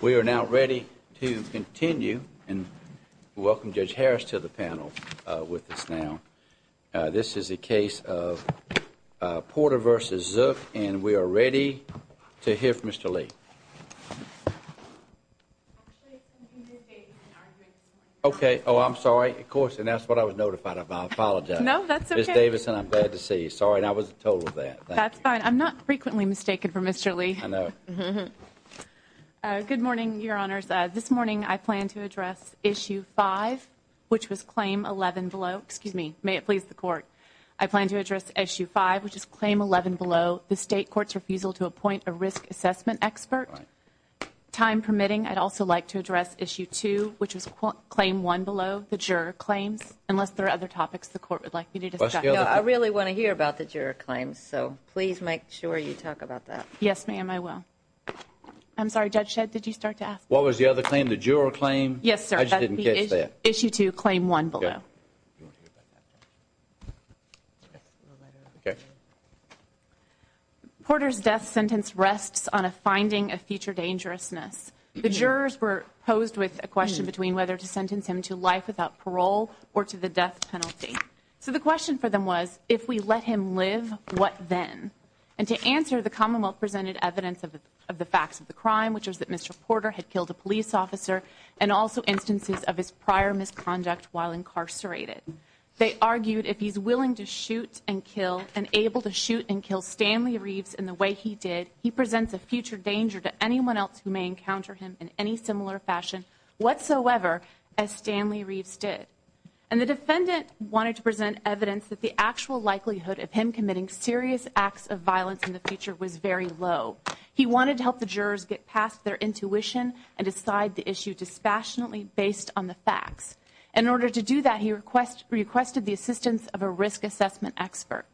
We are now ready to continue and welcome Judge Harris to the panel with us now. This is a case of Porter v. Zook and we are ready to hear from Mr. Lee. Okay. Oh, I'm sorry. Of course. And that's what I was notified of. I apologize. No, that's okay. Ms. Davidson, I'm glad to see you. Sorry, I was told of that. That's fine. I'm not frequently mistaken for Mr. Lee. I know. Good morning, Your Honors. This morning, I plan to address Issue 5, which was Claim 11 below. Excuse me. May it please the Court. I plan to address Issue 5, which is Claim 11 below, the State Court's refusal to appoint a risk assessment expert. Time permitting, I'd also like to address Issue 2, which is Claim 1 below, the juror claims. Unless there are other topics the Court would like me to discuss. No, I really want to hear about the juror claims, so please make sure you talk about that. Yes, ma'am, I will. I'm sorry, Judge Shedd, did you start to ask? What was the other claim? The juror claim? Yes, sir. I just didn't catch that. Issue 2, Claim 1 below. Porter's death sentence rests on a finding of future dangerousness. The jurors were posed with a question between whether to sentence him to life without parole or to the death penalty. So the question for them was, if we let him live, what then? And to answer, the Commonwealth presented evidence of the facts of the crime, which is that Mr. Porter had killed a police officer and also instances of his prior misconduct while incarcerated. They argued if he's willing to shoot and kill and able to shoot and kill Stanley Reeves in the way he did, he presents a future danger to anyone else who may encounter him in any similar fashion whatsoever as Stanley Reeves did. And the defendant wanted to present evidence that the actual likelihood of him committing serious acts of violence in the future was very low. He wanted to help the jurors get past their intuition and decide the issue dispassionately based on the facts. In order to do that, he requested the assistance of a risk assessment expert.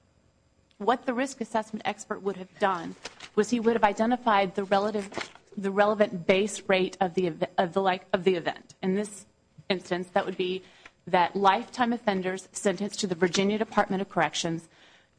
What the risk assessment expert would have done was he would have identified the relevant base rate of the event. In this instance, that would be that lifetime offenders sentenced to the Virginia Department of Corrections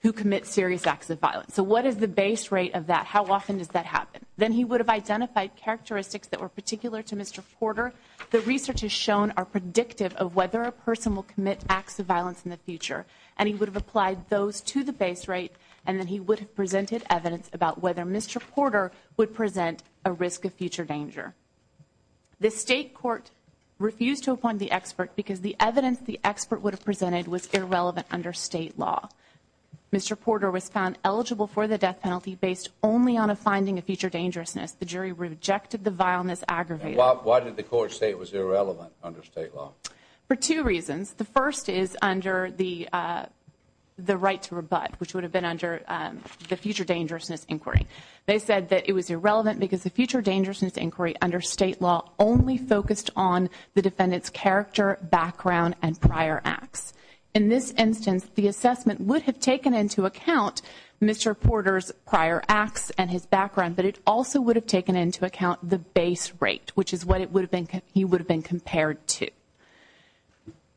who commit serious acts of violence. So what is the base rate of that? How often does that happen? Then he would have identified characteristics that were particular to Mr. Porter. The research has shown are predictive of whether a person will commit acts of violence in the future. And he would have applied those to the base rate. And then he would have presented evidence about whether Mr. Porter would present a risk of future danger. The state court refused to appoint the expert because the evidence the expert would have presented was irrelevant under state law. Mr. Porter was found eligible for the death penalty based only on a finding of future dangerousness. The jury rejected the violence aggravated. Why did the court say it was irrelevant under state law? For two reasons. The first is under the right to rebut, which would have been under the future dangerousness inquiry. They said that it was irrelevant because the future dangerousness inquiry under state law only focused on the defendant's character, background, and prior acts. In this instance, the assessment would have taken into account Mr. Porter's prior acts and his background. But it also would have taken into account the base rate, which is what he would have been compared to.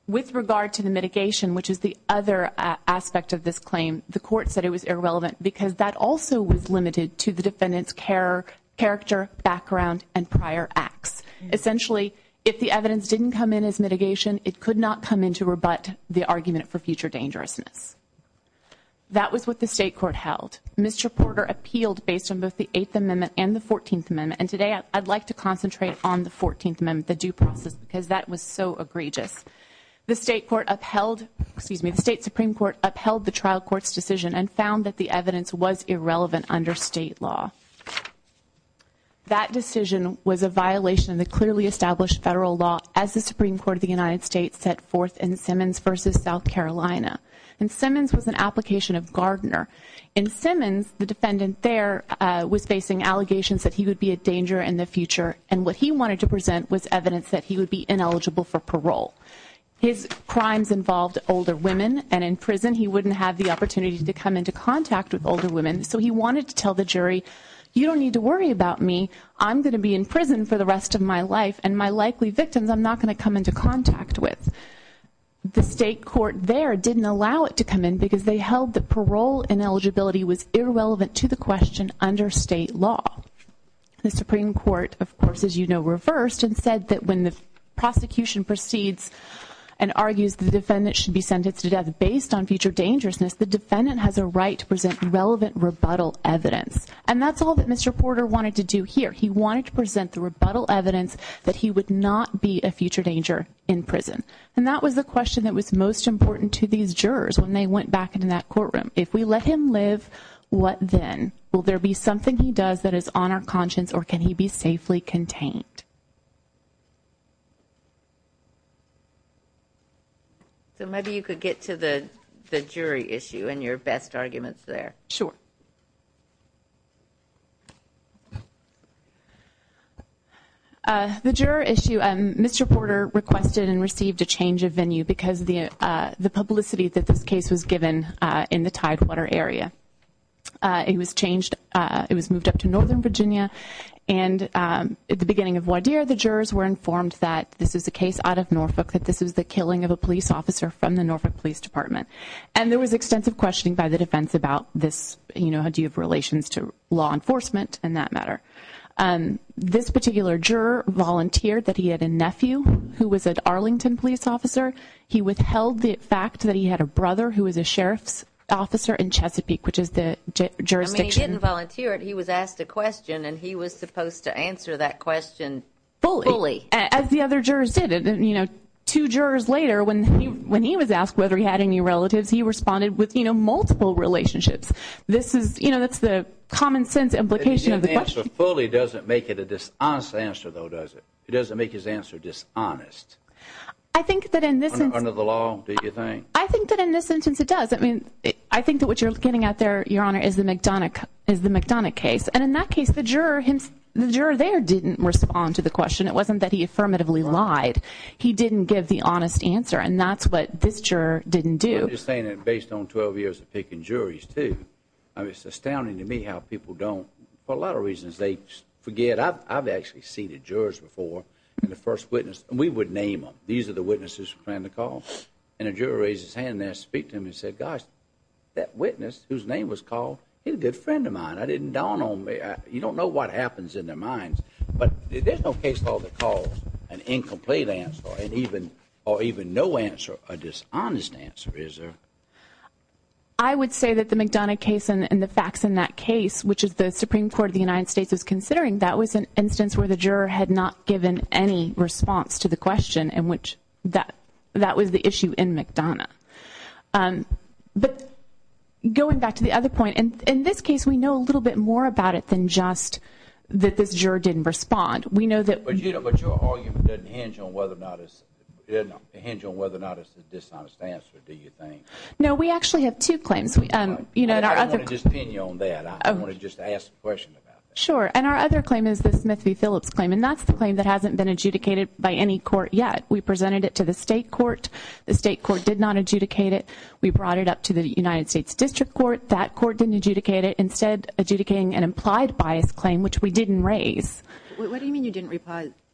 With regard to the mitigation, which is the other aspect of this claim, the court said it was irrelevant because that also was limited to the defendant's character, background, and prior acts. Essentially, if the evidence didn't come in as mitigation, it could not come in to rebut the argument for future dangerousness. That was what the state court held. Mr. Porter appealed based on both the Eighth Amendment and the Fourteenth Amendment. And today, I'd like to concentrate on the Fourteenth Amendment, the due process, because that was so egregious. The state court upheld, excuse me, the state Supreme Court upheld the trial court's decision and found that the evidence was irrelevant under state law. That decision was a violation of the clearly established federal law as the Supreme Court of the United States set forth in Simmons versus South Carolina. And Simmons was an application of Gardner. In Simmons, the defendant there was facing allegations that he would be a danger in the future. And what he wanted to present was evidence that he would be ineligible for parole. His crimes involved older women, and in prison, he wouldn't have the opportunity to come into contact with older women. So he wanted to tell the jury, you don't need to worry about me. I'm going to be in prison for the rest of my life, and my likely victims, I'm not going to come into contact with. The state court there didn't allow it to come in because they held that parole ineligibility was irrelevant to the question under state law. The Supreme Court, of course, as you know, reversed and said that when the prosecution proceeds and argues the defendant should be sentenced to death based on future dangerousness, the defendant has a right to present relevant rebuttal evidence. And that's all that Mr. Porter wanted to do here. He wanted to present the rebuttal evidence that he would not be a future danger in prison. And that was the question that was most important to these jurors when they went back into that courtroom. If we let him live, what then? Will there be something he does that is on our conscience, or can he be safely contained? So maybe you could get to the jury issue and your best arguments there. Sure. The juror issue, Mr. Porter requested and received a change of venue because the publicity that this case was given in the Tidewater area. It was changed, it was moved up to Northern Virginia. And at the beginning of one year, the jurors were informed that this is a case out of Norfolk, that this is the killing of a police officer from the Norfolk Police Department. And there was extensive questioning by the defense about this, how do you have relations to law enforcement in that matter? This particular juror volunteered that he had a nephew who was an Arlington police officer. He withheld the fact that he had a brother who was a sheriff's officer in Chesapeake, which is the jurisdiction. I mean, he didn't volunteer it, he was asked a question and he was supposed to answer that question fully. As the other jurors did, you know, two jurors later, when he was asked whether he had any relatives, he responded with, you know, multiple relationships. This is, you know, that's the common sense implication of the question. The answer fully doesn't make it a dishonest answer, though, does it? It doesn't make his answer dishonest. I think that in this... Under the law, do you think? I think that in this instance, it does. I mean, I think that what you're getting at there, Your Honor, is the McDonough case. And in that case, the juror there didn't respond to the question. It wasn't that he affirmatively lied. He didn't give the honest answer. And that's what this juror didn't do. Well, you're saying that based on 12 years of picking juries, too. I mean, it's astounding to me how people don't, for a lot of reasons, they forget. I've actually seated jurors before, and the first witness, and we would name them. These are the witnesses who planned the call. And a juror raised his hand there, speak to him, and said, gosh, that witness whose name was called, he's a good friend of mine. I didn't don on him. You don't know what happens in their minds. But there's no case law that calls an incomplete answer or even no answer a dishonest answer, is there? I would say that the McDonough case and the facts in that case, which is the Supreme Court of the United States is considering, that was an instance where the juror had not given any response to the question in which that was the issue in McDonough. But going back to the other point, in this case, we know a little bit more about it than just that this juror didn't respond. We know that. But your argument doesn't hinge on whether or not it's a dishonest answer, do you think? No, we actually have two claims. And I don't want to just pin you on that. I want to just ask a question about that. Sure. And our other claim is the Smith v. Phillips claim. And that's the claim that hasn't been adjudicated by any court yet. We presented it to the state court. The state court did not adjudicate it. We brought it up to the United States District Court. That court didn't adjudicate it. Instead, adjudicating an implied bias claim, which we didn't raise. What do you mean you didn't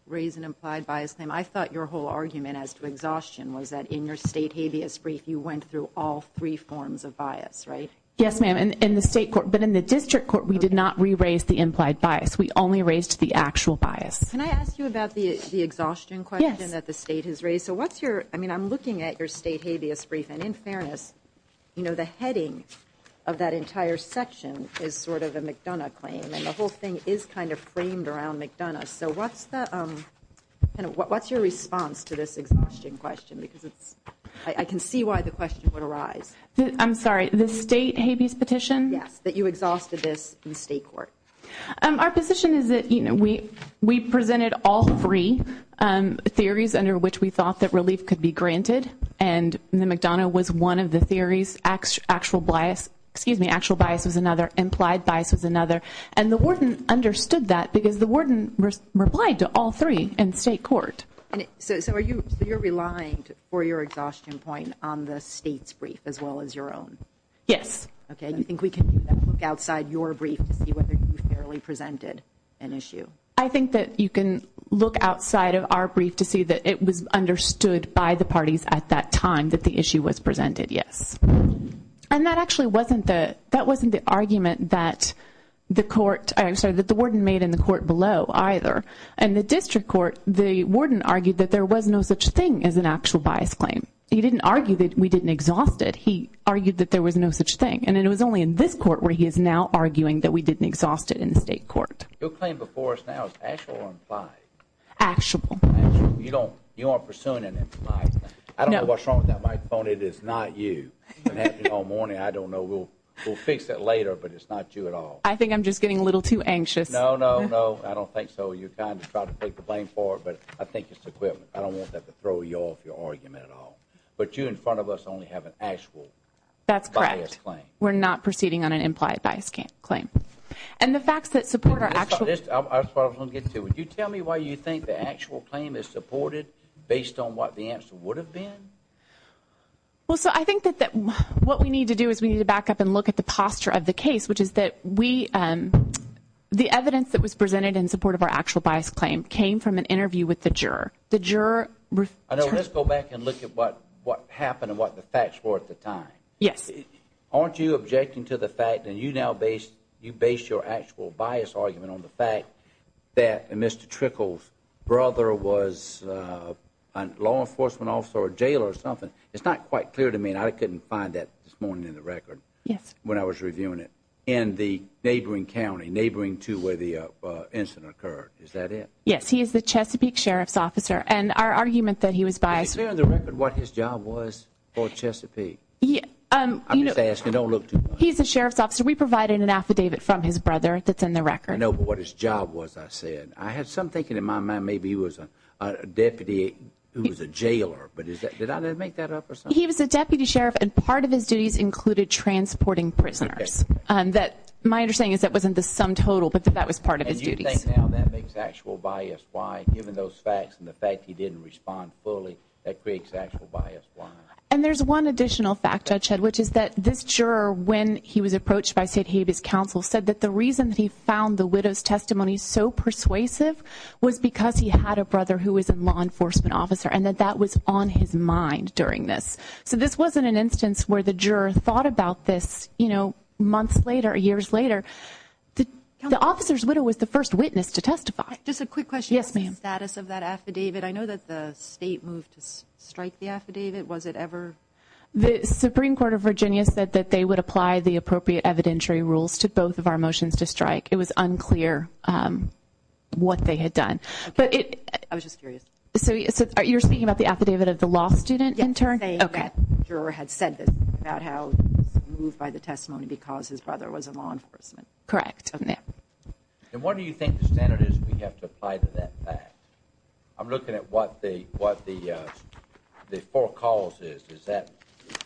raise an implied bias claim? I thought your whole argument as to exhaustion was that in your state habeas brief, you went through all three forms of bias, right? Yes, ma'am. In the state court. But in the district court, we did not re-raise the implied bias. We only raised the actual bias. Can I ask you about the exhaustion question that the state has raised? So what's your, I mean, I'm looking at your state habeas brief. And in fairness, you know, the heading of that entire section is sort of a McDonough claim. And the whole thing is kind of framed around McDonough. So what's your response to this exhaustion question? Because I can see why the question would arise. I'm sorry. The state habeas petition? Yes. That you exhausted this in state court. Our position is that, you know, we presented all three theories under which we thought that relief could be granted. And the McDonough was one of the theories. Actual bias, excuse me, actual bias was another. Implied bias was another. And the warden understood that because the warden replied to all three in state court. And so are you, so you're relying for your exhaustion point on the state's brief as well as your own? Yes. Okay. You think we can look outside your brief to see whether you fairly presented an issue? I think that you can look outside of our brief to see that it was understood by the parties at that time that the issue was presented. Yes. And that actually wasn't the, that wasn't the argument that the court, I'm sorry, that the warden made in the court below either. And the district court, the warden argued that there was no such thing as an actual bias claim. He didn't argue that we didn't exhaust it. He argued that there was no such thing. And it was only in this court where he is now arguing that we didn't exhaust it in the state court. Your claim before us now is actual or implied? Actual. You don't, you aren't pursuing an implied. I don't know what's wrong with that microphone. It is not you. It happened all morning. I don't know. We'll, we'll fix it later. But it's not you at all. I think I'm just getting a little too anxious. No, no, no. I don't think so. You kind of tried to take the blame for it. But I think it's the equipment. I don't want that to throw you off your argument at all. But you in front of us only have an actual. That's correct. We're not proceeding on an implied bias claim. And the facts that support our actual. This is what I was going to get to. Would you tell me why you think the actual claim is supported based on what the answer would have been? Well, so I think that what we need to do is we need to back up and look at the posture of the case, which is that we, the evidence that was presented in support of our actual bias claim came from an interview with the juror. The juror. I know. Let's go back and look at what what happened and what the facts were at the time. Yes. Aren't you objecting to the fact that you now base you base your actual bias argument on the fact that Mr. Trickles brother was a law enforcement officer or jail or something? It's not quite clear to me. And I couldn't find that this morning in the record. Yes. When I was reviewing it in the neighboring county, neighboring to where the incident occurred. Is that it? Yes, he is the Chesapeake Sheriff's officer. And our argument that he was biased. Is there in the record what his job was for Chesapeake? I'm just asking. Don't look too much. He's a sheriff's officer. We provided an affidavit from his brother that's in the record. I know. But what his job was, I said, I had some thinking in my mind. Maybe he was a deputy who was a jailer. But is that did I make that up or something? He was a deputy sheriff. And part of his duties included transporting prisoners that my understanding is that wasn't the sum total, but that was part of his duties. That makes actual bias. Why, given those facts and the fact he didn't respond fully, that creates actual bias. And there's one additional fact, Judge Head, which is that this juror, when he was approached by State Habeas Council, said that the reason that he found the widow's testimony so persuasive was because he had a brother who was a law enforcement officer and that that was on his mind during this. So this wasn't an instance where the juror thought about this, you know, months later, years later. The officer's widow was the first witness to testify. Just a quick question. Yes, ma'am. Status of that affidavit. I know that the state moved to strike the affidavit. Was it ever? The Supreme Court of Virginia said that they would apply the appropriate evidentiary rules to both of our motions to strike. It was unclear what they had done. But I was just curious. So you're speaking about the affidavit of the law student in turn? Okay. The juror had said this about how he was moved by the testimony because his brother was a law enforcement. Correct. And what do you think the standard is we have to apply to that fact? I'm looking at what the four calls is. Is that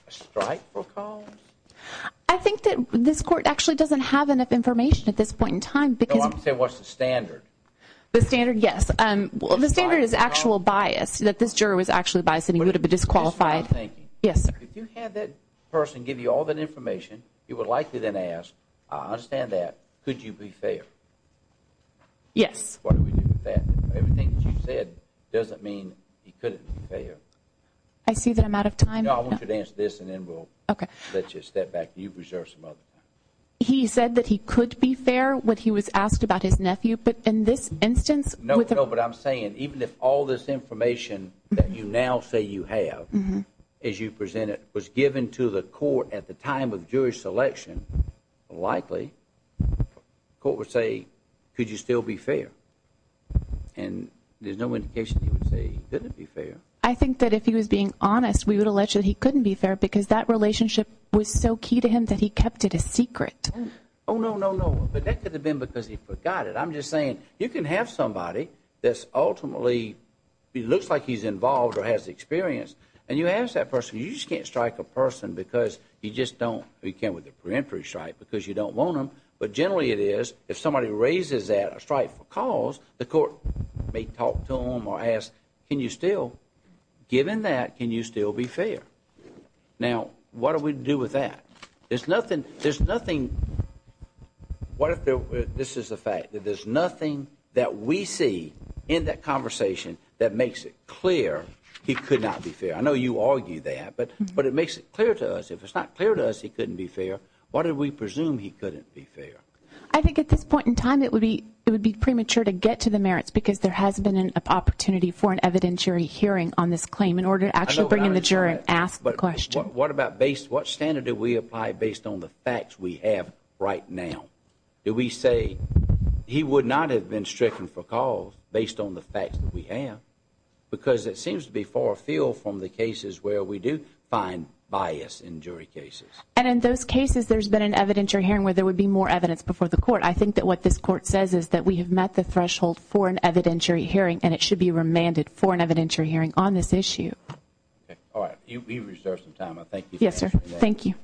a strike for calls? I think that this court actually doesn't have enough information at this point in time. No, I'm saying what's the standard? The standard, yes. The standard is actual bias, that this juror was actually biased and he would have been disqualified. Yes. If you had that person give you all that information, you would likely then ask, I understand that. Could you be fair? Yes. Everything that you said doesn't mean he couldn't be fair. I see that I'm out of time. No, I want you to answer this and then we'll let you step back. You've reserved some other time. He said that he could be fair when he was asked about his nephew. But in this instance. No, no, but I'm saying even if all this information that you now say you have as you presented was given to the court at the time of Jewish selection. Likely. Court would say, could you still be fair? And there's no indication he would say he couldn't be fair. I think that if he was being honest, we would allege that he couldn't be fair because that relationship was so key to him that he kept it a secret. Oh, no, no, no. But that could have been because he forgot it. I'm just saying you can have somebody that's ultimately looks like he's involved or has experience. And you ask that person, you just can't strike a person because you just don't. We came with a preemptory strike because you don't want them. But generally, it is if somebody raises that strike for calls, the court may talk to him or ask, can you still given that? Can you still be fair? Now, what do we do with that? There's nothing. There's nothing. What if this is a fact that there's nothing that we see in that conversation that makes it clear he could not be fair? I know you argue that, but but it makes it clear to us. If it's not clear to us, he couldn't be fair. What do we presume he couldn't be fair? I think at this point in time, it would be it would be premature to get to the merits because there has been an opportunity for an evidentiary hearing on this claim in order to actually bring in the jury and ask the question. What about base? What standard do we apply based on the facts we have right now? Do we say he would not have been stricken for calls based on the facts that we have? Because it seems to be far afield from the cases where we do find bias in jury cases. And in those cases, there's been an evidentiary hearing where there would be more evidence before the court. I think that what this court says is that we have met the threshold for an evidentiary hearing, and it should be remanded for an evidentiary hearing on this issue. All right, you reserve some time. I thank you. Yes, sir. Thank you.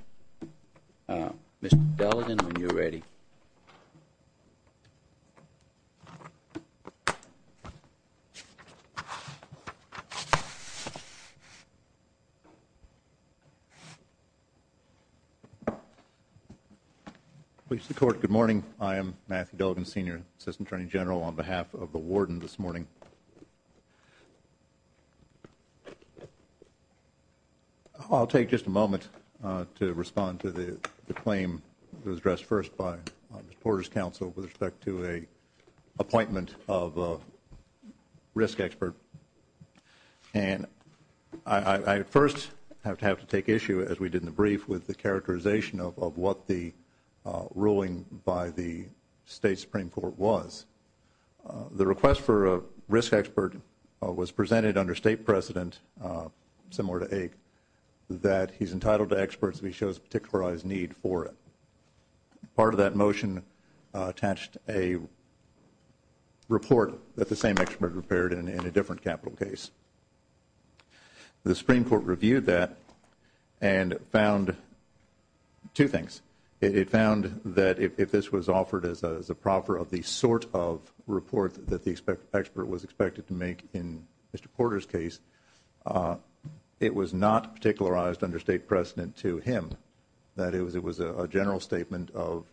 Mr. Delegan, when you're ready. Please support. Good morning. I am Matthew Delegan, senior assistant attorney general on behalf of the warden this morning. I'll take just a moment to respond to the claim that was addressed first by Mr. Porter's counsel with respect to a appointment of a risk expert. And I first have to have to take issue, as we did in the brief, with the characterization of what the ruling by the state Supreme Court was. The request for a risk expert was presented under state precedent, similar to AIG, that he's entitled to experts if he shows a particularized need for it. Part of that motion attached a report that the same expert prepared in a different capital case. The Supreme Court reviewed that and found two things. It found that if this was offered as a proffer of the sort of report that the expert was expected to make in Mr. Porter's case, it was not particularized under state precedent to him. That it was a general statement of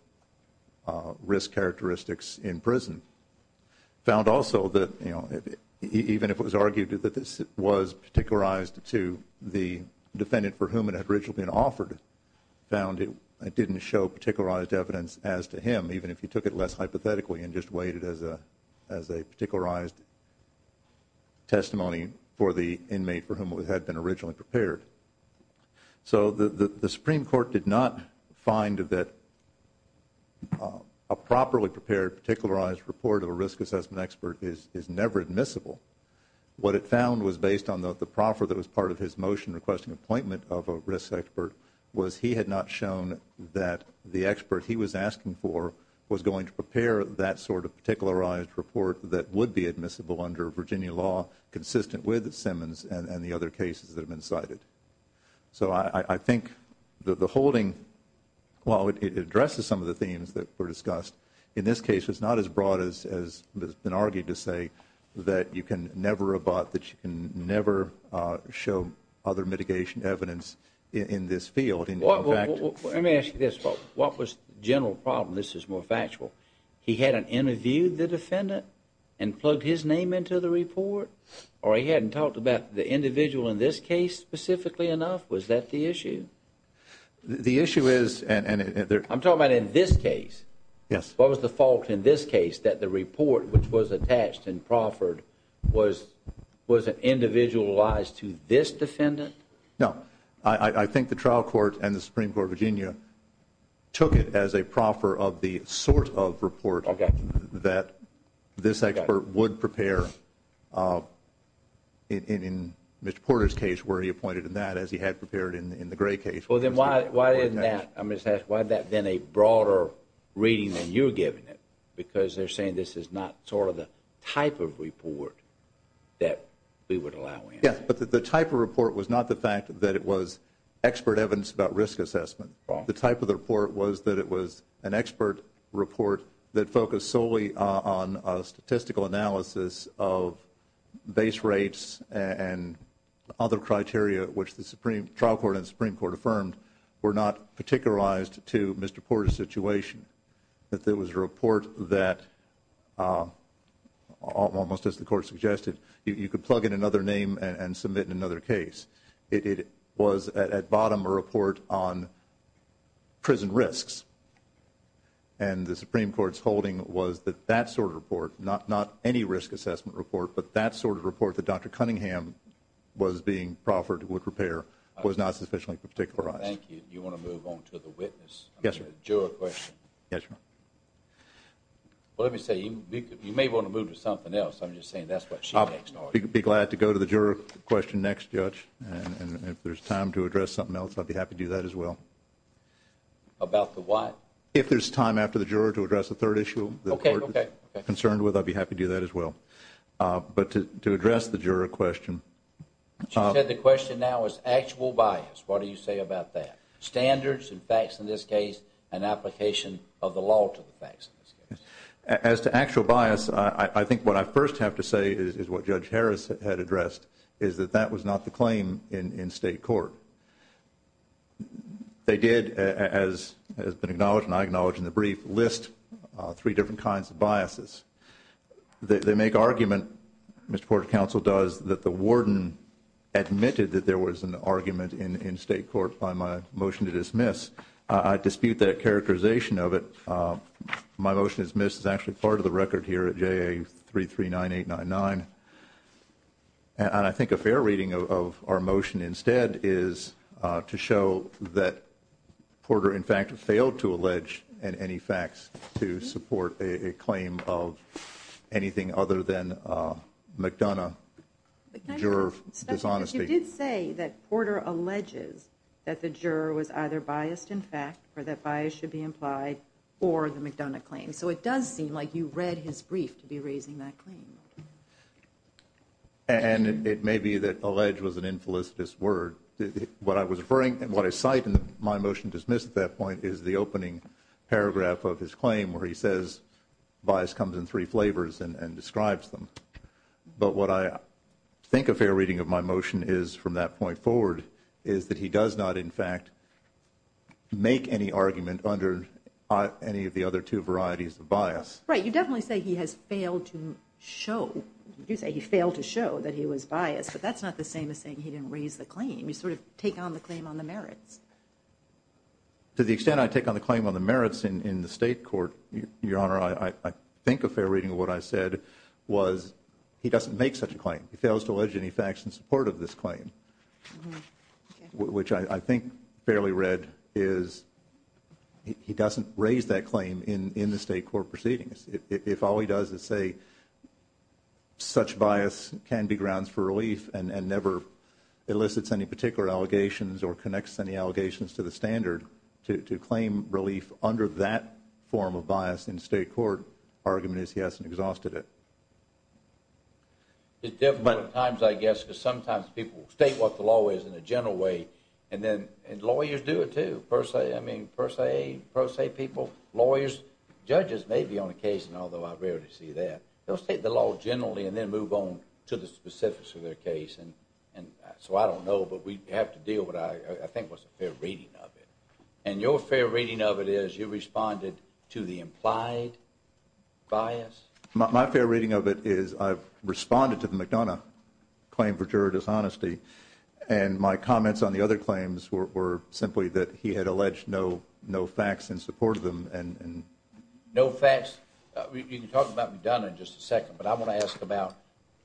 risk characteristics in prison. Found also that, you know, even if it was argued that this was particularized to the particularized evidence as to him, even if you took it less hypothetically and just weighed it as a particularized testimony for the inmate for whom it had been originally prepared. So the Supreme Court did not find that a properly prepared particularized report of a risk assessment expert is never admissible. What it found was based on the proffer that was part of his motion requesting appointment of a risk expert was he had not shown that the expert he was asking for was going to prepare that sort of particularized report that would be admissible under Virginia law consistent with Simmons and the other cases that have been cited. So I think the holding, while it addresses some of the themes that were discussed, in this case it's not as broad as has been argued to say that you can never about, that you in this field. Let me ask you this. What was the general problem? This is more factual. He hadn't interviewed the defendant and plugged his name into the report? Or he hadn't talked about the individual in this case specifically enough? Was that the issue? The issue is. I'm talking about in this case. Yes. What was the fault in this case? That the report which was attached and proffered was individualized to this defendant? No, I think the trial court and the Supreme Court of Virginia took it as a proffer of the sort of report that this expert would prepare in Mr. Porter's case where he appointed in that as he had prepared in the Gray case. Well, then why isn't that? I'm just asking why that then a broader reading than you're giving it? Because they're saying this is not sort of the type of report that we would allow him. But the type of report was not the fact that it was expert evidence about risk assessment. The type of the report was that it was an expert report that focused solely on a statistical analysis of base rates and other criteria, which the Supreme Trial Court and Supreme Court affirmed were not particularized to Mr. Porter's situation. That there was a report that almost as the court suggested, you could plug in another name and submit in another case. It was at bottom a report on prison risks. And the Supreme Court's holding was that that sort of report, not any risk assessment report, but that sort of report that Dr. Cunningham was being proffered, would prepare, was not sufficiently particularized. Thank you. Do you want to move on to the witness? Yes, sir. Juror question. Yes, sir. Well, let me say, you may want to move to something else. I'm just saying that's what she thinks. Be glad to go to the juror question next, Judge. And if there's time to address something else, I'd be happy to do that as well. About the what? If there's time after the juror to address the third issue, the court is concerned with, I'd be happy to do that as well. But to address the juror question. She said the question now is actual bias. What do you say about that? Standards and facts in this case and application of the law to the facts. As to actual bias, I think what I first have to say is what Judge Harris had addressed, is that that was not the claim in state court. They did, as has been acknowledged and I acknowledge in the brief, list three different kinds of biases. They make argument, Mr. Court of Counsel does, that the warden admitted that there was an argument in state court by my motion to dismiss. I dispute that characterization of it. My motion is missed. It's actually part of the record here at JA339899. And I think a fair reading of our motion instead is to show that Porter, in fact, failed to allege any facts to support a claim of anything other than McDonough, juror dishonesty. You did say that Porter alleges that the juror was either biased in fact or that bias should be implied or the McDonough claim. So it does seem like you read his brief to be raising that claim. And it may be that allege was an infelicitous word. What I was referring and what I cite in my motion dismissed at that point is the opening paragraph of his claim where he says bias comes in three flavors and describes them. But what I think a fair reading of my motion is from that point forward is that he does not, in fact, make any argument under any of the other two varieties of bias. Right. You definitely say he has failed to show. You say he failed to show that he was biased. But that's not the same as saying he didn't raise the claim. You sort of take on the claim on the merits. To the extent I take on the claim on the merits in the state court, Your Honor, I think a fair reading of what I said was he doesn't make such a claim. He fails to allege any facts in support of this claim, which I think fairly read is he doesn't raise that claim in the state court proceedings. If all he does is say such bias can be grounds for relief and never elicits any particular allegations or connects any allegations to the standard to claim relief under that form of bias in state court argument is he hasn't exhausted it. It's difficult at times, I guess, because sometimes people will state what the law is in a general way and then lawyers do it, too, per se. I mean, per se, per se people, lawyers, judges may be on a case, although I rarely see that. They'll state the law generally and then move on to the specifics of their case. And so I don't know. But we have to deal with what I think was a fair reading of it. And your fair reading of it is you responded to the implied bias. My fair reading of it is I've responded to the McDonough claim for juror dishonesty, and my comments on the other claims were simply that he had alleged no facts in support of them. No facts. You can talk about McDonough in just a second, but I want to ask about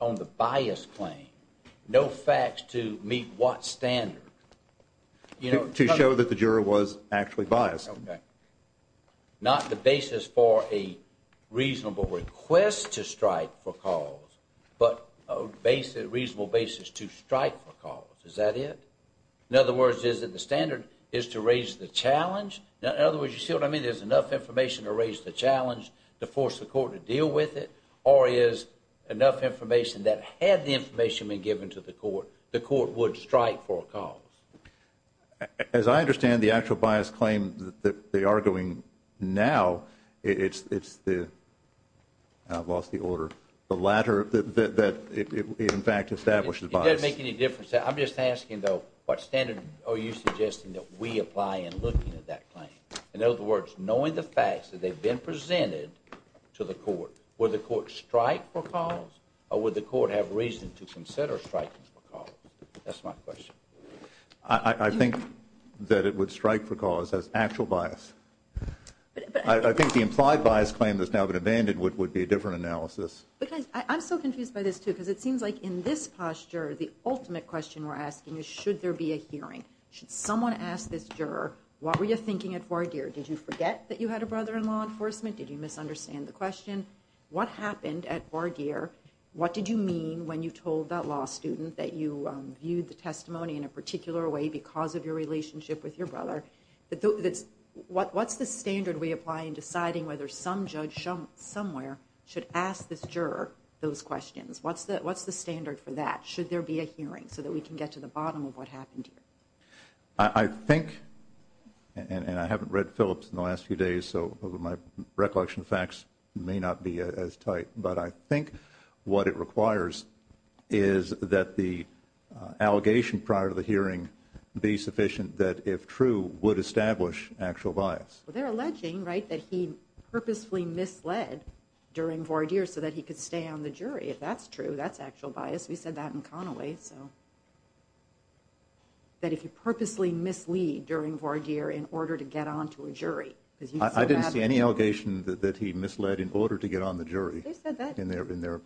on the bias claim, no facts to meet what standard? To show that the juror was actually biased. OK. Not the basis for a reasonable request to strike for cause, but a reasonable basis to strike for cause. Is that it? In other words, is it the standard is to raise the challenge? In other words, you see what I mean? There's enough information to raise the challenge, to force the court to deal with it, or is enough information that had the information been given to the court, the court would strike for a cause. As I understand the actual bias claim that they are doing now, it's the, I've lost the order, the latter, that it in fact establishes bias. It doesn't make any difference. I'm just asking, though, what standard are you suggesting that we apply in looking at that claim? In other words, knowing the facts that they've been presented to the court, would the court strike for cause, or would the court have reason to consider striking for cause? That's my question. I think that it would strike for cause as actual bias. I think the implied bias claim that's now been abandoned would be a different analysis. I'm so confused by this, too, because it seems like in this posture, the ultimate question we're asking is, should there be a hearing? Should someone ask this juror, what were you thinking at voir dire? Did you forget that you had a brother-in-law in enforcement? Did you misunderstand the question? What happened at voir dire? What did you mean when you told that law student that you viewed the testimony in a particular way because of your relationship with your brother? What's the standard we apply in deciding whether some judge somewhere should ask this juror those questions? What's the standard for that? Should there be a hearing so that we can get to the bottom of what happened here? I think, and I haven't read Phillips in the last few days, so my recollection of facts may not be as tight, but I think what it requires is that the allegation prior to the hearing be sufficient that, if true, would establish actual bias. Well, they're alleging, right, that he purposefully misled during voir dire so that he could stay on the jury. If that's true, that's actual bias. We said that in Conaway. So that if you purposely mislead during voir dire in order to get onto a jury. I didn't see any allegation that he misled in order to get on the jury. In their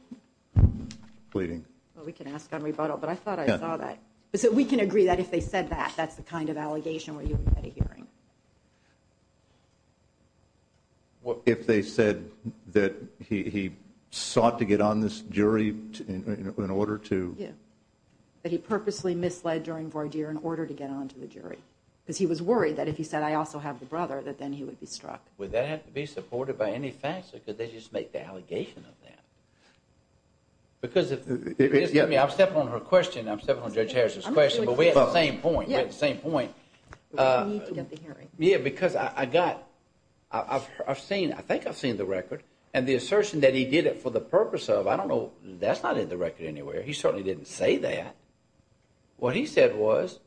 pleading. Well, we can ask on rebuttal, but I thought I saw that. So we can agree that if they said that, that's the kind of allegation where you would get a hearing. If they said that he sought to get on this jury in order to... That he purposely misled during voir dire in order to get onto the jury. Because he was worried that if he said, I also have the brother, that then he would be struck. Would that have to be supported by any facts? Or could they just make the allegation of that? I'm stepping on her question. I'm stepping on Judge Harris's question. But we're at the same point. We're at the same point. Yeah, because I've seen, I think I've seen the record. And the assertion that he did it for the purpose of, I don't know, that's not in the record anywhere. He certainly didn't say that. What he said was,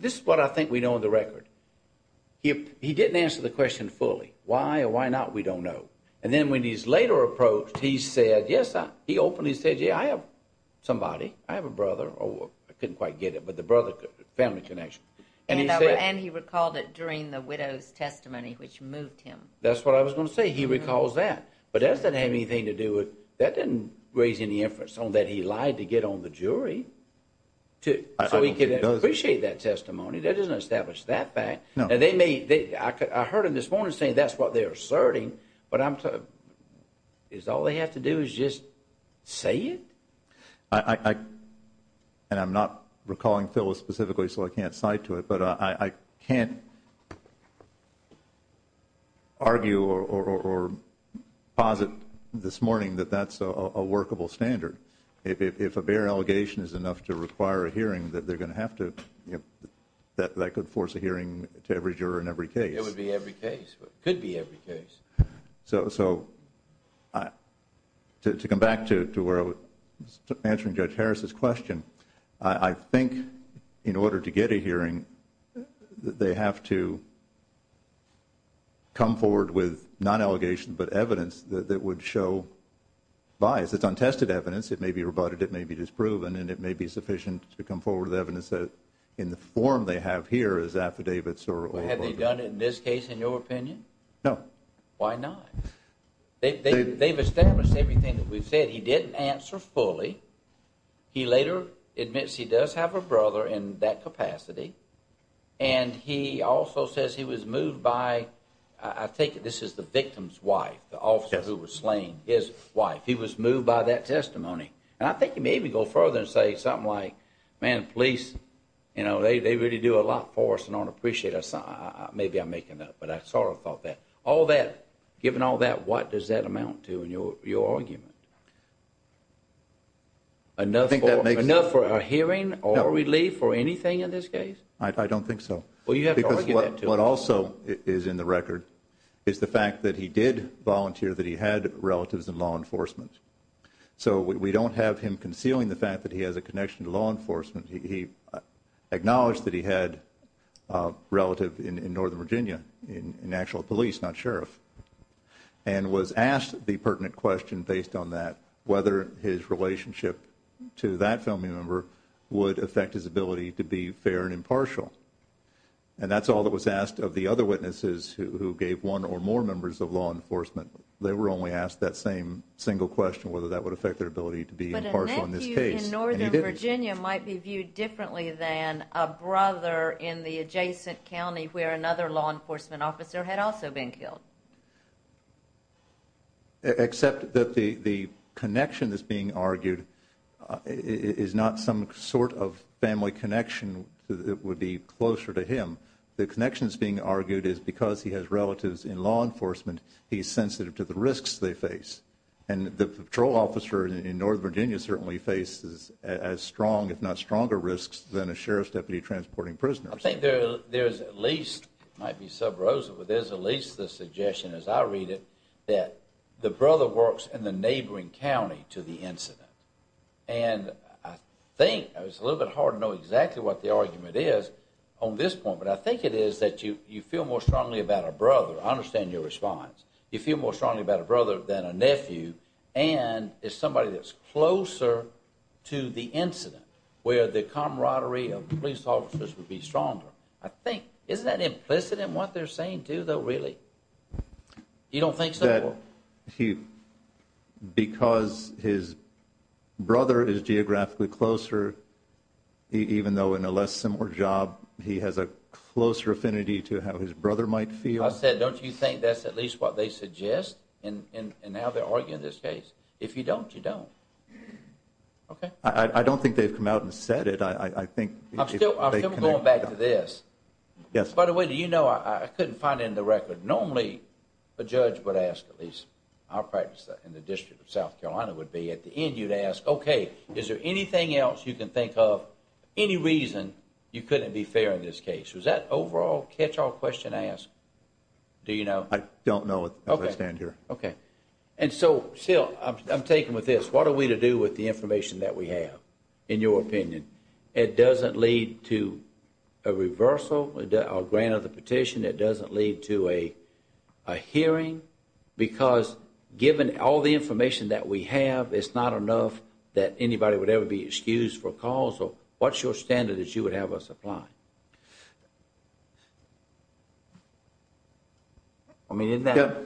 this is what I think we know in the record. He didn't answer the question fully. Why or why not, we don't know. And then when he's later approached, he said, yes, he openly said, yeah, I have somebody. I have a brother. Oh, I couldn't quite get it. But the brother, family connection. And he said... And he recalled it during the widow's testimony, which moved him. That's what I was going to say. He recalls that. But does that have anything to do with... That didn't raise any inference on that. He lied to get on the jury too. So he could appreciate that testimony. That doesn't establish that fact. And they may... I heard him this morning saying that's what they're asserting. But I'm... Is all they have to do is just say it? And I'm not recalling Phyllis specifically, so I can't cite to it. But I can't argue or posit this morning that that's a workable standard. If a bare allegation is enough to require a hearing, they're going to have to... That could force a hearing to every juror in every case. It would be every case. It could be every case. So to come back to where I was answering Judge Harris's question, I think in order to get a hearing, they have to come forward with non-allegation, but evidence that would show bias. It's untested evidence. It may be rebutted. It may be disproven. And it may be sufficient to come forward with evidence that in the form they have here is affidavits or... Have they done it in this case, in your opinion? No. Why not? They've established everything that we've said. He didn't answer fully. He later admits he does have a brother in that capacity. And he also says he was moved by... I think this is the victim's wife, the officer who was slain, his wife. He was moved by that testimony. And I think you may even go further and say something like, man, police, you know, they really do a lot for us and don't appreciate us. Maybe I'm making that up, but I sort of thought that. All that, given all that, what does that amount to in your argument? Enough for a hearing or a relief or anything in this case? I don't think so. Well, you have to argue that too. What also is in the record is the fact that he did volunteer, that he had relatives in law enforcement. So we don't have him concealing the fact that he has a connection to law enforcement. He acknowledged that he had a relative in Northern Virginia, in actual police, not sheriff, and was asked the pertinent question based on that, whether his relationship to that family member would affect his ability to be fair and impartial. And that's all that was asked of the other witnesses who gave one or more members of law enforcement. They were only asked that same single question, whether that would affect their ability to be impartial in this case. But a nephew in Northern Virginia might be viewed differently than a brother in the adjacent county where another law enforcement officer had also been killed. Except that the connection that's being argued is not some sort of family connection that would be closer to him. The connection that's being argued is because he has relatives in law enforcement, he's sensitive to the risks they face. And the patrol officer in Northern Virginia certainly faces as strong, if not stronger risks than a sheriff's deputy transporting prisoners. I think there's at least, it might be sub rosa, but there's at least the suggestion as I read it, that the brother works in the neighboring county to the incident. And I think, it's a little bit hard to know exactly what the argument is on this point, but I think it is that you feel more strongly about a brother. I understand your response. You feel more strongly about a brother than a nephew. And it's somebody that's closer to the incident where the camaraderie of police officers would be stronger. I think, isn't that implicit in what they're saying too though, really? You don't think so? Because his brother is geographically closer, even though in a less similar job, he has a closer affinity to how his brother might feel. I said, don't you think that's at least what they suggest in how they're arguing this case? If you don't, you don't. Okay. I don't think they've come out and said it. I think they connected it. I'm still going back to this. Yes. By the way, do you know, I couldn't find it in the record. Normally, a judge would ask at least, our practice in the District of South Carolina would be, at the end you'd ask, okay, is there anything else you can think of, any reason you couldn't be fair in this case? Was that overall catch-all question asked? Do you know? I don't know as I stand here. Okay. And so, still, I'm taken with this. What are we to do with the information that we have, in your opinion? It doesn't lead to a reversal, a grant of the petition. It doesn't lead to a hearing, because given all the information that we have, it's not enough that anybody would ever be excused for a cause. So what's your standard that you would have us apply? I mean, isn't that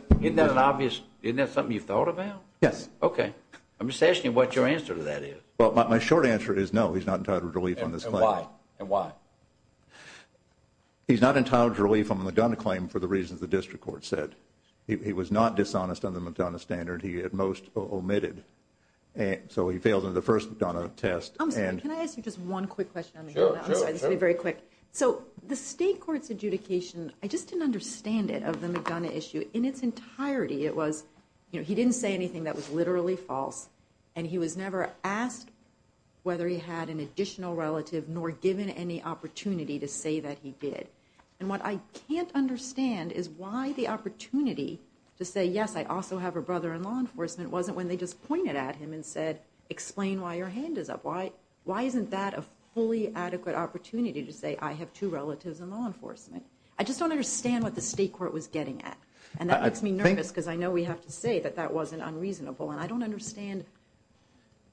an obvious, isn't that something you've thought about? Yes. Okay. I'm just asking you what your answer to that is. Well, my short answer is no, he's not entitled to relief on this claim. And why? He's not entitled to relief on the McDonough claim for the reasons the district court said. He was not dishonest on the McDonough standard. He at most omitted. So he failed on the first McDonough test. I'm sorry, can I ask you just one quick question on the McDonough? I'm sorry, this will be very quick. So the state court's adjudication, I just didn't understand it of the McDonough issue. In its entirety, it was, you know, he didn't say anything that was literally false. And he was never asked whether he had an additional relative, nor given any opportunity to say that he did. And what I can't understand is why the opportunity to say, yes, I also have a brother-in-law in enforcement, wasn't when they just pointed at him and said, explain why your hand is up. Why isn't that a fully adequate opportunity to say, I have two relatives in law enforcement? I just don't understand what the state court was getting at. And that makes me nervous because I know we have to say that that wasn't unreasonable. And I don't understand.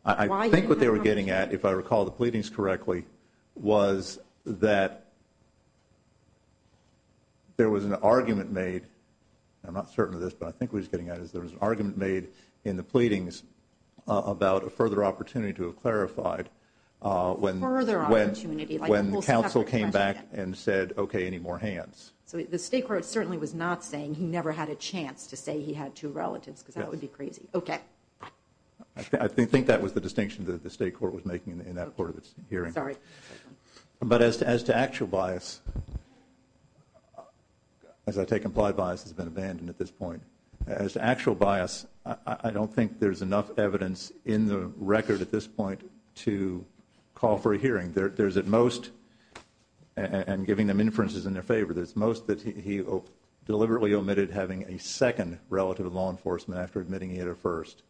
I think what they were getting at, if I recall the pleadings correctly, was that there was an argument made. I'm not certain of this, but I think what he's getting at is there was an argument made in the pleadings about a further opportunity to have clarified when the counsel came back and said, okay, any more hands. So the state court certainly was not saying he never had a chance to say he had two relatives because that would be crazy. Okay. I think that was the distinction that the state court was making in that part of its hearing. Sorry. But as to actual bias, as I take implied bias has been abandoned at this point. As to actual bias, I don't think there's enough evidence in the record at this point to call for a hearing. There's at most, and giving them inferences in their favor, there's most that he deliberately omitted having a second relative in law enforcement after admitting he had a first.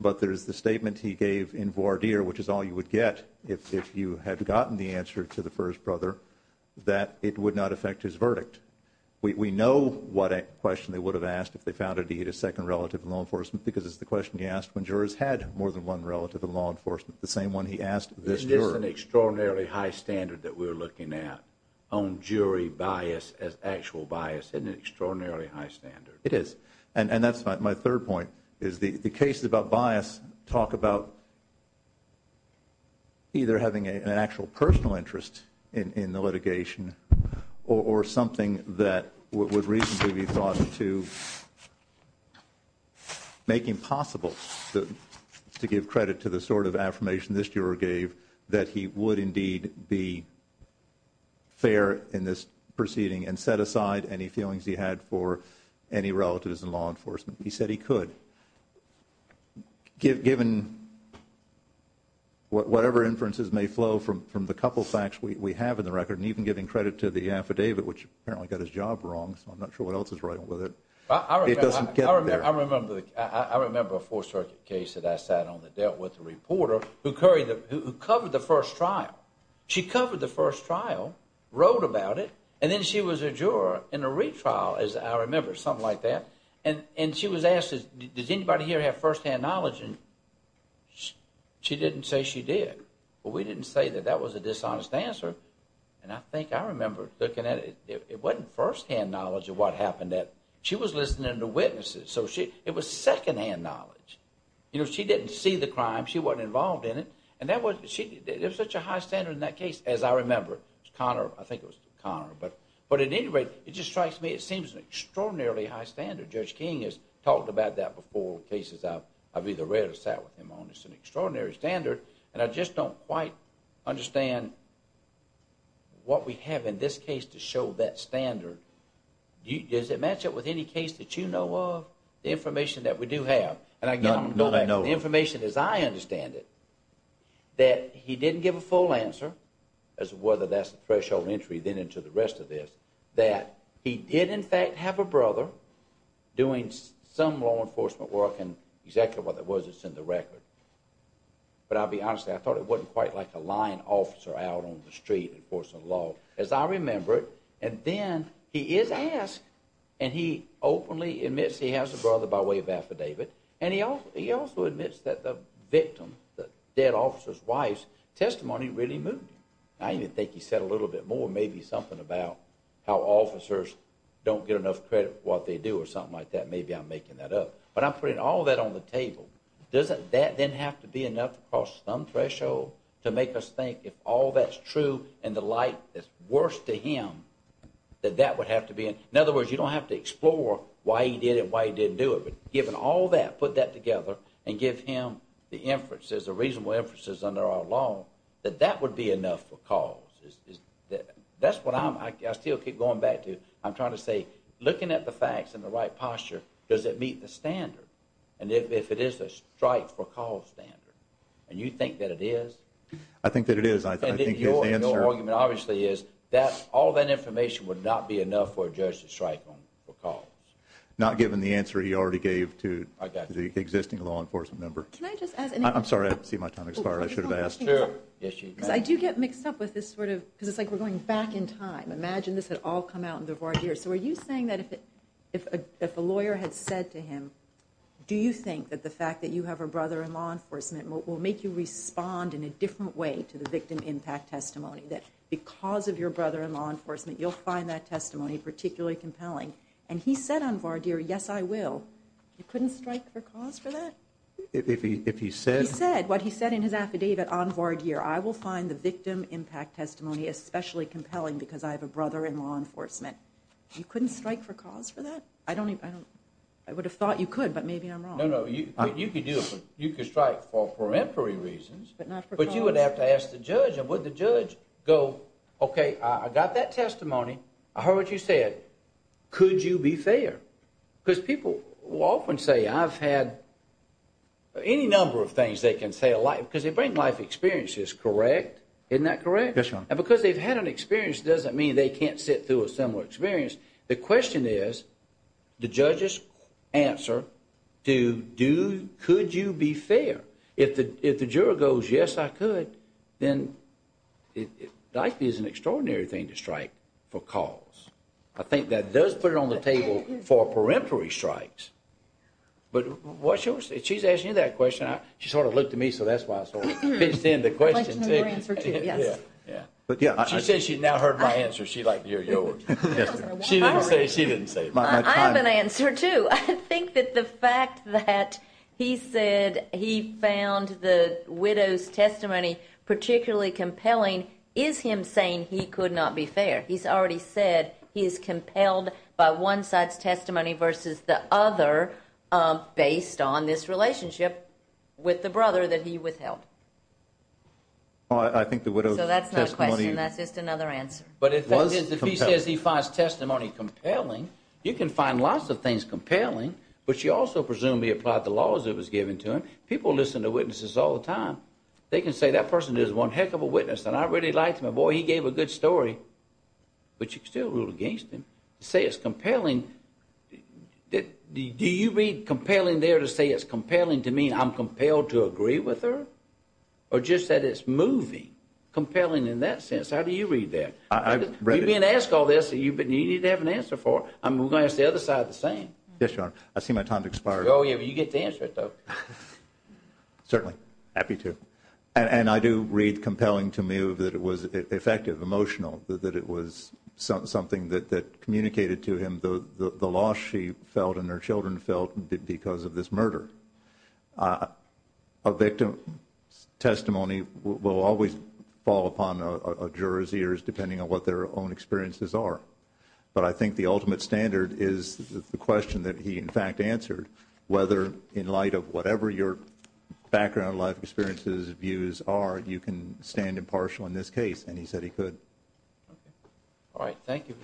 But there's the statement he gave in voir dire, which is all you would get if you had gotten the answer to the first brother, that it would not affect his verdict. We know what question they would have asked if they found that he had a second relative in law enforcement because it's the question he asked when jurors had more than one relative in law enforcement. The same one he asked this juror. Isn't this an extraordinarily high standard that we're looking at on jury bias as actual bias? Isn't it an extraordinarily high standard? It is. And that's my third point, is the cases about bias talk about either having an actual personal interest in the litigation or something that would reasonably be thought to make impossible to give credit to the sort of affirmation this juror gave that he would indeed be fair in this proceeding and set aside any feelings he had for any relatives in law enforcement. He said he could, given whatever inferences may flow from the couple of facts we have in the record, and even giving credit to the affidavit, which apparently got his job wrong, so I'm not sure what else is wrong with it. I remember a Fourth Circuit case that I sat on that dealt with a reporter who covered the first trial. She covered the first trial, wrote about it, and then she was a juror in a retrial, as I remember, something like that. And she was asked, does anybody here have first-hand knowledge? And she didn't say she did. But we didn't say that. That was a dishonest answer. And I think I remember looking at it. It wasn't first-hand knowledge of what happened. She was listening to witnesses. So it was second-hand knowledge. You know, she didn't see the crime. She wasn't involved in it. And there was such a high standard in that case, as I remember. Conor, I think it was Conor. But at any rate, it just strikes me. It seems an extraordinarily high standard. Judge King has talked about that before in cases I've either read or sat with him on. It's an extraordinary standard. And I just don't quite understand what we have in this case to show that standard. Does it match up with any case that you know of? The information that we do have. And again, the information as I understand it, that he didn't give a full answer as to whether that's a threshold entry then into the rest of this. That he did, in fact, have a brother doing some law enforcement work. And exactly what that was is in the record. But I'll be honest. I thought it wasn't quite like a lying officer out on the street enforcing the law, as I remember it. And then he is asked, and he openly admits he has a brother by way of affidavit. And he also admits that the victim, the dead officer's wife's testimony really moved him. I even think he said a little bit more, maybe something about how officers don't get enough credit for what they do or something like that. Maybe I'm making that up. But I'm putting all that on the table. Doesn't that then have to be enough across some threshold to make us think if all that's true and the like that's worse to him, that that would have to be. In other words, you don't have to explore why he did it, why he didn't do it. But given all that, put that together and give him the inferences, the reasonable inferences under our law, that that would be enough for cause. That's what I still keep going back to. I'm trying to say, looking at the facts in the right posture, does it meet the standard? And if it is a strike for cause standard, and you think that it is. I think that it is. And your argument obviously is that all that information would not be enough for a judge to strike on for cause. Not given the answer he already gave to the existing law enforcement member. Can I just add anything? I'm sorry. I see my time expired. I should have asked. I do get mixed up with this sort of, because it's like we're going back in time. Imagine this had all come out in the voir dire. So are you saying that if a lawyer had said to him, do you think that the fact that you have a brother in law enforcement will make you respond in a different way to the victim impact testimony, that because of your brother in law enforcement, you'll find that testimony particularly compelling? And he said on voir dire, yes, I will. You couldn't strike for cause for that? If he said. He said what he said in his affidavit on voir dire. I will find the victim impact testimony especially compelling because I have a brother in law enforcement. You couldn't strike for cause for that? I don't even, I don't, I would have thought you could, but maybe I'm wrong. No, no, you could do it. You could strike for peremptory reasons. But not for cause. But you would have to ask the judge. And would the judge go, okay, I got that testimony. I heard what you said. Could you be fair? Because people will often say I've had any number of things they can say a lot because they bring life experiences, correct? Isn't that correct? Yes, your honor. And because they've had an experience doesn't mean they can't sit through a similar experience. The question is, the judge's answer to do, could you be fair? If the, if the juror goes, yes, I could. Then life is an extraordinary thing to strike for cause. I think that does put it on the table for peremptory strikes. But what's your, she's asking you that question. She sort of looked at me, so that's why I sort of pitched in the question. I'd like to know your answer too, yes. Yeah, yeah. She says she's now heard my answer. She's like, you're yours. She didn't say, she didn't say it. I have an answer too. I think that the fact that he said he found the widow's testimony particularly compelling is him saying he could not be fair. He's already said he is compelled by one side's testimony versus the other, based on this relationship with the brother that he withheld. I think the widow's testimony. So that's not a question, that's just another answer. But if he says he finds testimony compelling, you can find lots of things compelling. But she also presumably applied the laws that was given to him. People listen to witnesses all the time. They can say that person is one heck of a witness and I really liked him. Boy, he gave a good story, but you can still rule against him. To say it's compelling, do you read compelling there to say it's compelling to mean I'm compelled to agree with her? Or just that it's moving, compelling in that sense? How do you read that? I've read it. You've been asked all this and you need to have an answer for it. I'm going to ask the other side the same. Yes, Your Honor. I see my time has expired. Oh yeah, but you get to answer it though. Certainly. Happy to. And I do read compelling to me that it was effective, emotional. That it was something that communicated to him the loss she felt and her children felt because of this murder. A victim's testimony will always fall upon a juror's ears depending on what their own experiences are. But I think the ultimate standard is the question that he in fact answered, whether in light of whatever your background, life experiences, views are, you can stand impartial in this case. And he said he could. All right, thank you.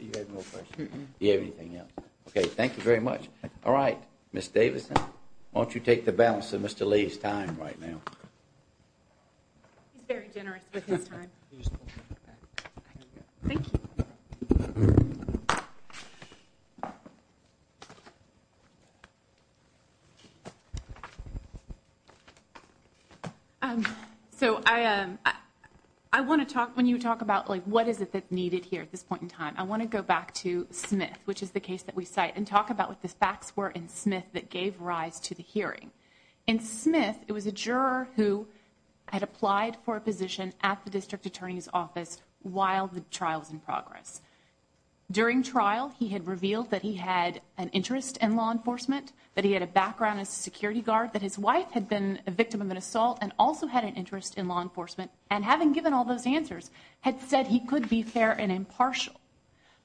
You have no questions? Do you have anything else? Okay, thank you very much. All right, Ms. Davison, why don't you take the balance of Mr. Lee's time right now? He's very generous with his time. Thank you. So I want to talk, when you talk about what is it that's needed here at this point in time, I want to go back to Smith, which is the case that we cite, and talk about what the facts were in Smith that gave rise to the hearing. In Smith, it was a juror who had applied for a position at the district attorney's office while the trial was in progress. During trial, he had revealed that he had an interest in law enforcement, that he had a background as a security guard, that his wife had been a victim of an assault and also had an interest in law enforcement, and having given all those answers, had said he could be fair and impartial.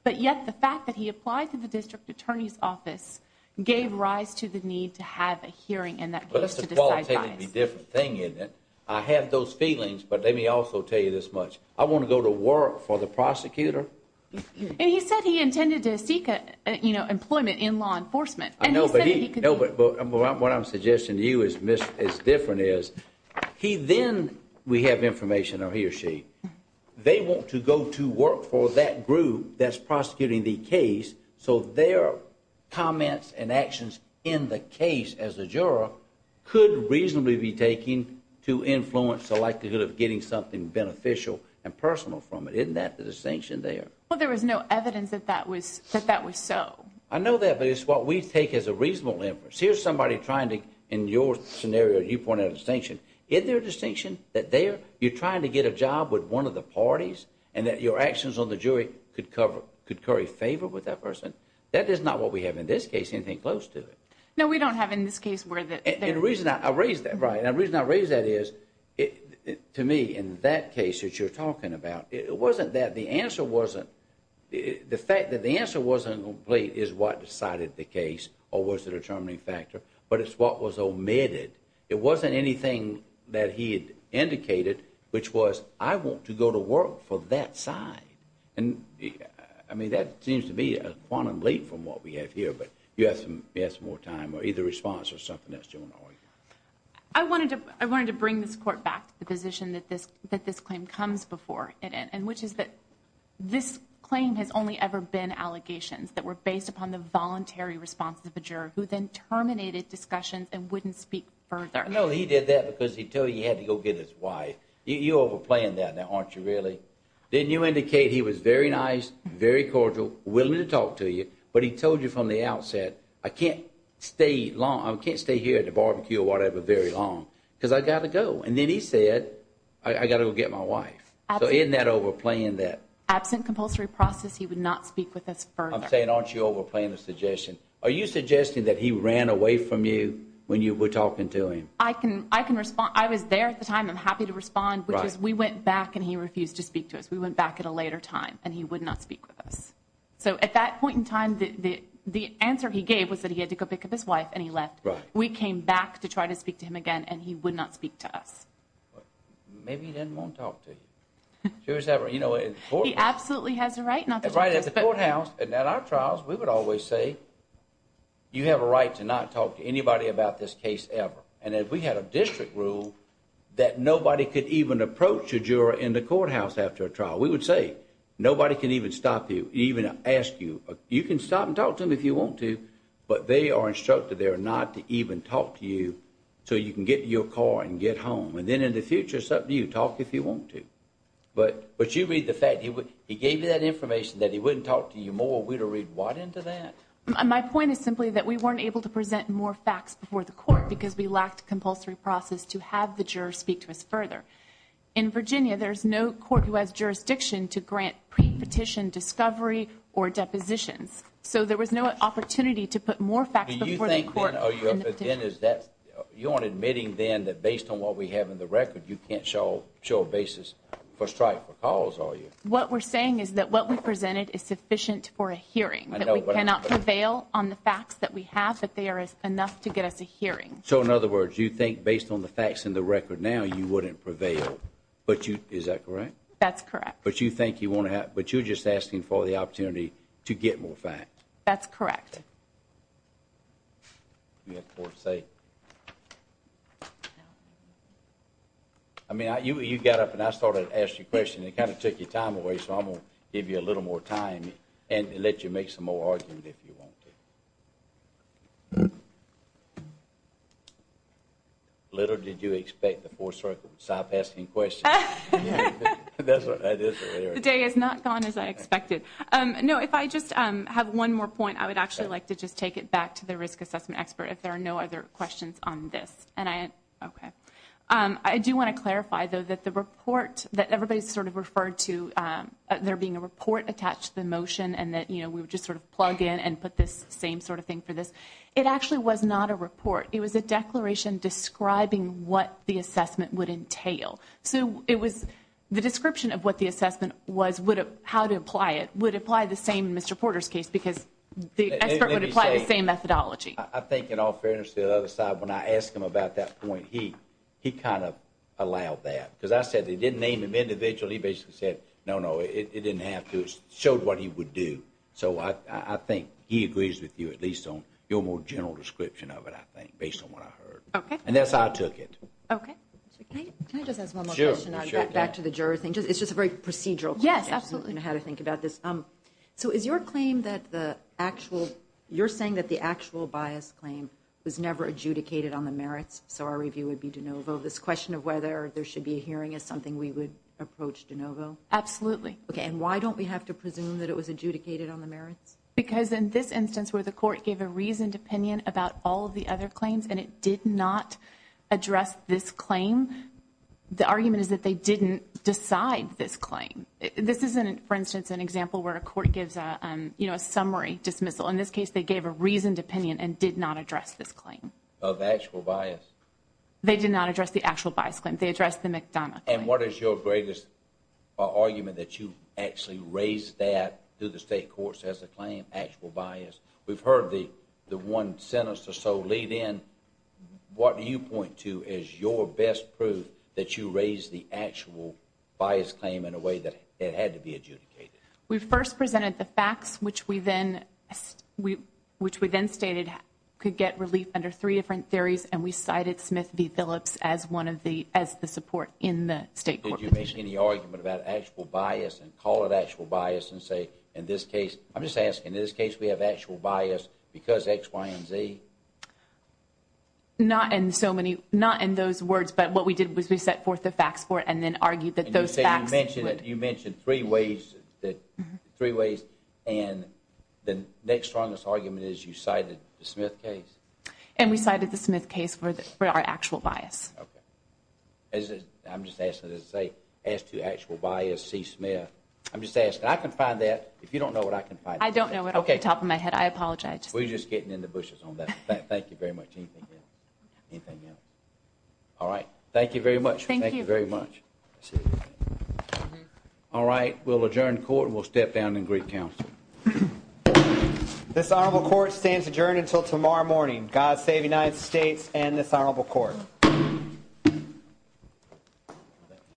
But yet the fact that he applied to the district attorney's office gave rise to the need to have a hearing and that was to decide bias. But it's a qualitatively different thing, isn't it? I have those feelings, but let me also tell you this much. I want to go to work for the prosecutor. And he said he intended to seek employment in law enforcement. I know, but what I'm suggesting to you is different is, he then, we have information, or he or she, they want to go to work for that group that's prosecuting the case so their comments and actions in the case as a juror could reasonably be taken to influence the likelihood of getting something beneficial and personal from it. Isn't that the distinction there? Well, there was no evidence that that was so. I know that, but it's what we take as a reasonable inference. Here's somebody trying to, in your scenario, you point out a distinction. Is there a distinction that there, you're trying to get a job with one of the parties and that your actions on the jury could cover, could carry favor with that person? That is not what we have in this case, anything close to it. No, we don't have in this case where the- And the reason I raise that, right, and the reason I raise that is, to me, in that case that you're talking about, it wasn't that. The answer wasn't, the fact that the answer wasn't complete is what decided the case or was the determining factor, but it's what was omitted. It wasn't anything that he had indicated, which was, I want to go to work for that side. And I mean, that seems to be a quantum leap from what we have here, but you have some more time or either response or something else. Do you want to argue? I wanted to bring this court back to the position that this claim comes before it, and which is that this claim has only ever been allegations that were based upon the No, he did that because he told you he had to go get his wife. You're overplaying that now, aren't you, really? Didn't you indicate he was very nice, very cordial, willing to talk to you, but he told you from the outset, I can't stay here at the barbecue or whatever very long, because I got to go. And then he said, I got to go get my wife. So isn't that overplaying that? Absent compulsory process, he would not speak with us further. I'm saying, aren't you overplaying the suggestion? Are you suggesting that he ran away from you when you were talking to him? I can I can respond. I was there at the time. I'm happy to respond because we went back and he refused to speak to us. We went back at a later time and he would not speak with us. So at that point in time, the answer he gave was that he had to go pick up his wife and he left. We came back to try to speak to him again, and he would not speak to us. Maybe he didn't want to talk to you. He absolutely has a right not to write at the courthouse. And at our trials, we would always say, you have a right to not talk to anybody about this case ever. And if we had a district rule that nobody could even approach a juror in the courthouse after a trial, we would say nobody can even stop you, even ask you. You can stop and talk to him if you want to. But they are instructed there not to even talk to you so you can get your car and get home. And then in the future, it's up to you. Talk if you want to. But you read the fact he gave you that information that he wouldn't talk to you more. We would read what into that? My point is simply that we weren't able to present more facts before the court because we lacked compulsory process to have the juror speak to us further. In Virginia, there's no court who has jurisdiction to grant pre-petition discovery or depositions. So there was no opportunity to put more facts before the court. You aren't admitting then that based on what we have in the record, you can't show a basis. First try for calls, are you? What we're saying is that what we presented is sufficient for a hearing. That we cannot prevail on the facts that we have, but there is enough to get us a hearing. So in other words, you think based on the facts in the record now, you wouldn't prevail. But you, is that correct? That's correct. But you think you want to have, but you're just asking for the opportunity to get more facts. That's correct. Do you have more to say? I mean, you got up and I started to ask you a question. It kind of took your time away. So I'm going to give you a little more time and let you make some more argument if you want to. Little did you expect the 4th Circle would stop asking questions. The day is not gone as I expected. No, if I just have one more point, I would actually like to just take it back to the risk assessment expert if there are no other questions on this. I do want to clarify, though, that the report that everybody's sort of referred to, there being a report attached to the motion and that, you know, we would just sort of plug in and put this same sort of thing for this. It actually was not a report. It was a declaration describing what the assessment would entail. So the description of what the assessment was, how to apply it, would apply the same in Mr. Porter's case because the expert would apply the same methodology. I think, in all fairness to the other side, when I asked him about that point, he kind of allowed that because I said they didn't name him individually. He basically said, no, no, it didn't have to. It showed what he would do. So I think he agrees with you, at least on your more general description of it, I think, based on what I heard. And that's how I took it. Okay. Can I just ask one more question? Sure. Back to the juror thing. It's just a very procedural. Yes, absolutely. How to think about this. So is your claim that the actual, you're saying that the actual bias claim was never adjudicated on the merits? So our review would be de novo. This question of whether there should be a hearing is something we would approach de novo. Absolutely. Okay. And why don't we have to presume that it was adjudicated on the merits? Because in this instance where the court gave a reasoned opinion about all of the other claims and it did not address this claim, the argument is that they didn't decide this claim. This isn't, for instance, an example where a court gives a summary dismissal. In this case, they gave a reasoned opinion and did not address this claim. Of actual bias. They did not address the actual bias claim. They addressed the McDonough claim. And what is your greatest argument that you actually raised that through the state courts as a claim, actual bias? We've heard the one sentence or so lead in. What do you point to as your best proof that you raised the actual bias claim in a way that it had to be adjudicated? We first presented the facts, which we then, which we then stated could get relief under three different theories. And we cited Smith v. Phillips as one of the, as the support in the state court. Did you make any argument about actual bias and call it actual bias and say, in this case, I'm just asking, in this case, we have actual bias because X, Y, and Z? Not in so many, not in those words. But what we did was we set forth the facts for it and then argued that those facts. You mentioned three ways that, three ways. And the next strongest argument is you cited the Smith case. And we cited the Smith case for our actual bias. I'm just asking to say, as to actual bias, see Smith. I'm just asking. I can find that. If you don't know what I can find. I don't know what's on the top of my head. I apologize. We're just getting in the bushes on that. Thank you very much. Anything else? All right. Thank you very much. Thank you very much. All right. We'll adjourn court and we'll step down and greet counsel. This honorable court stands adjourned until tomorrow morning. God save the United States and this honorable court.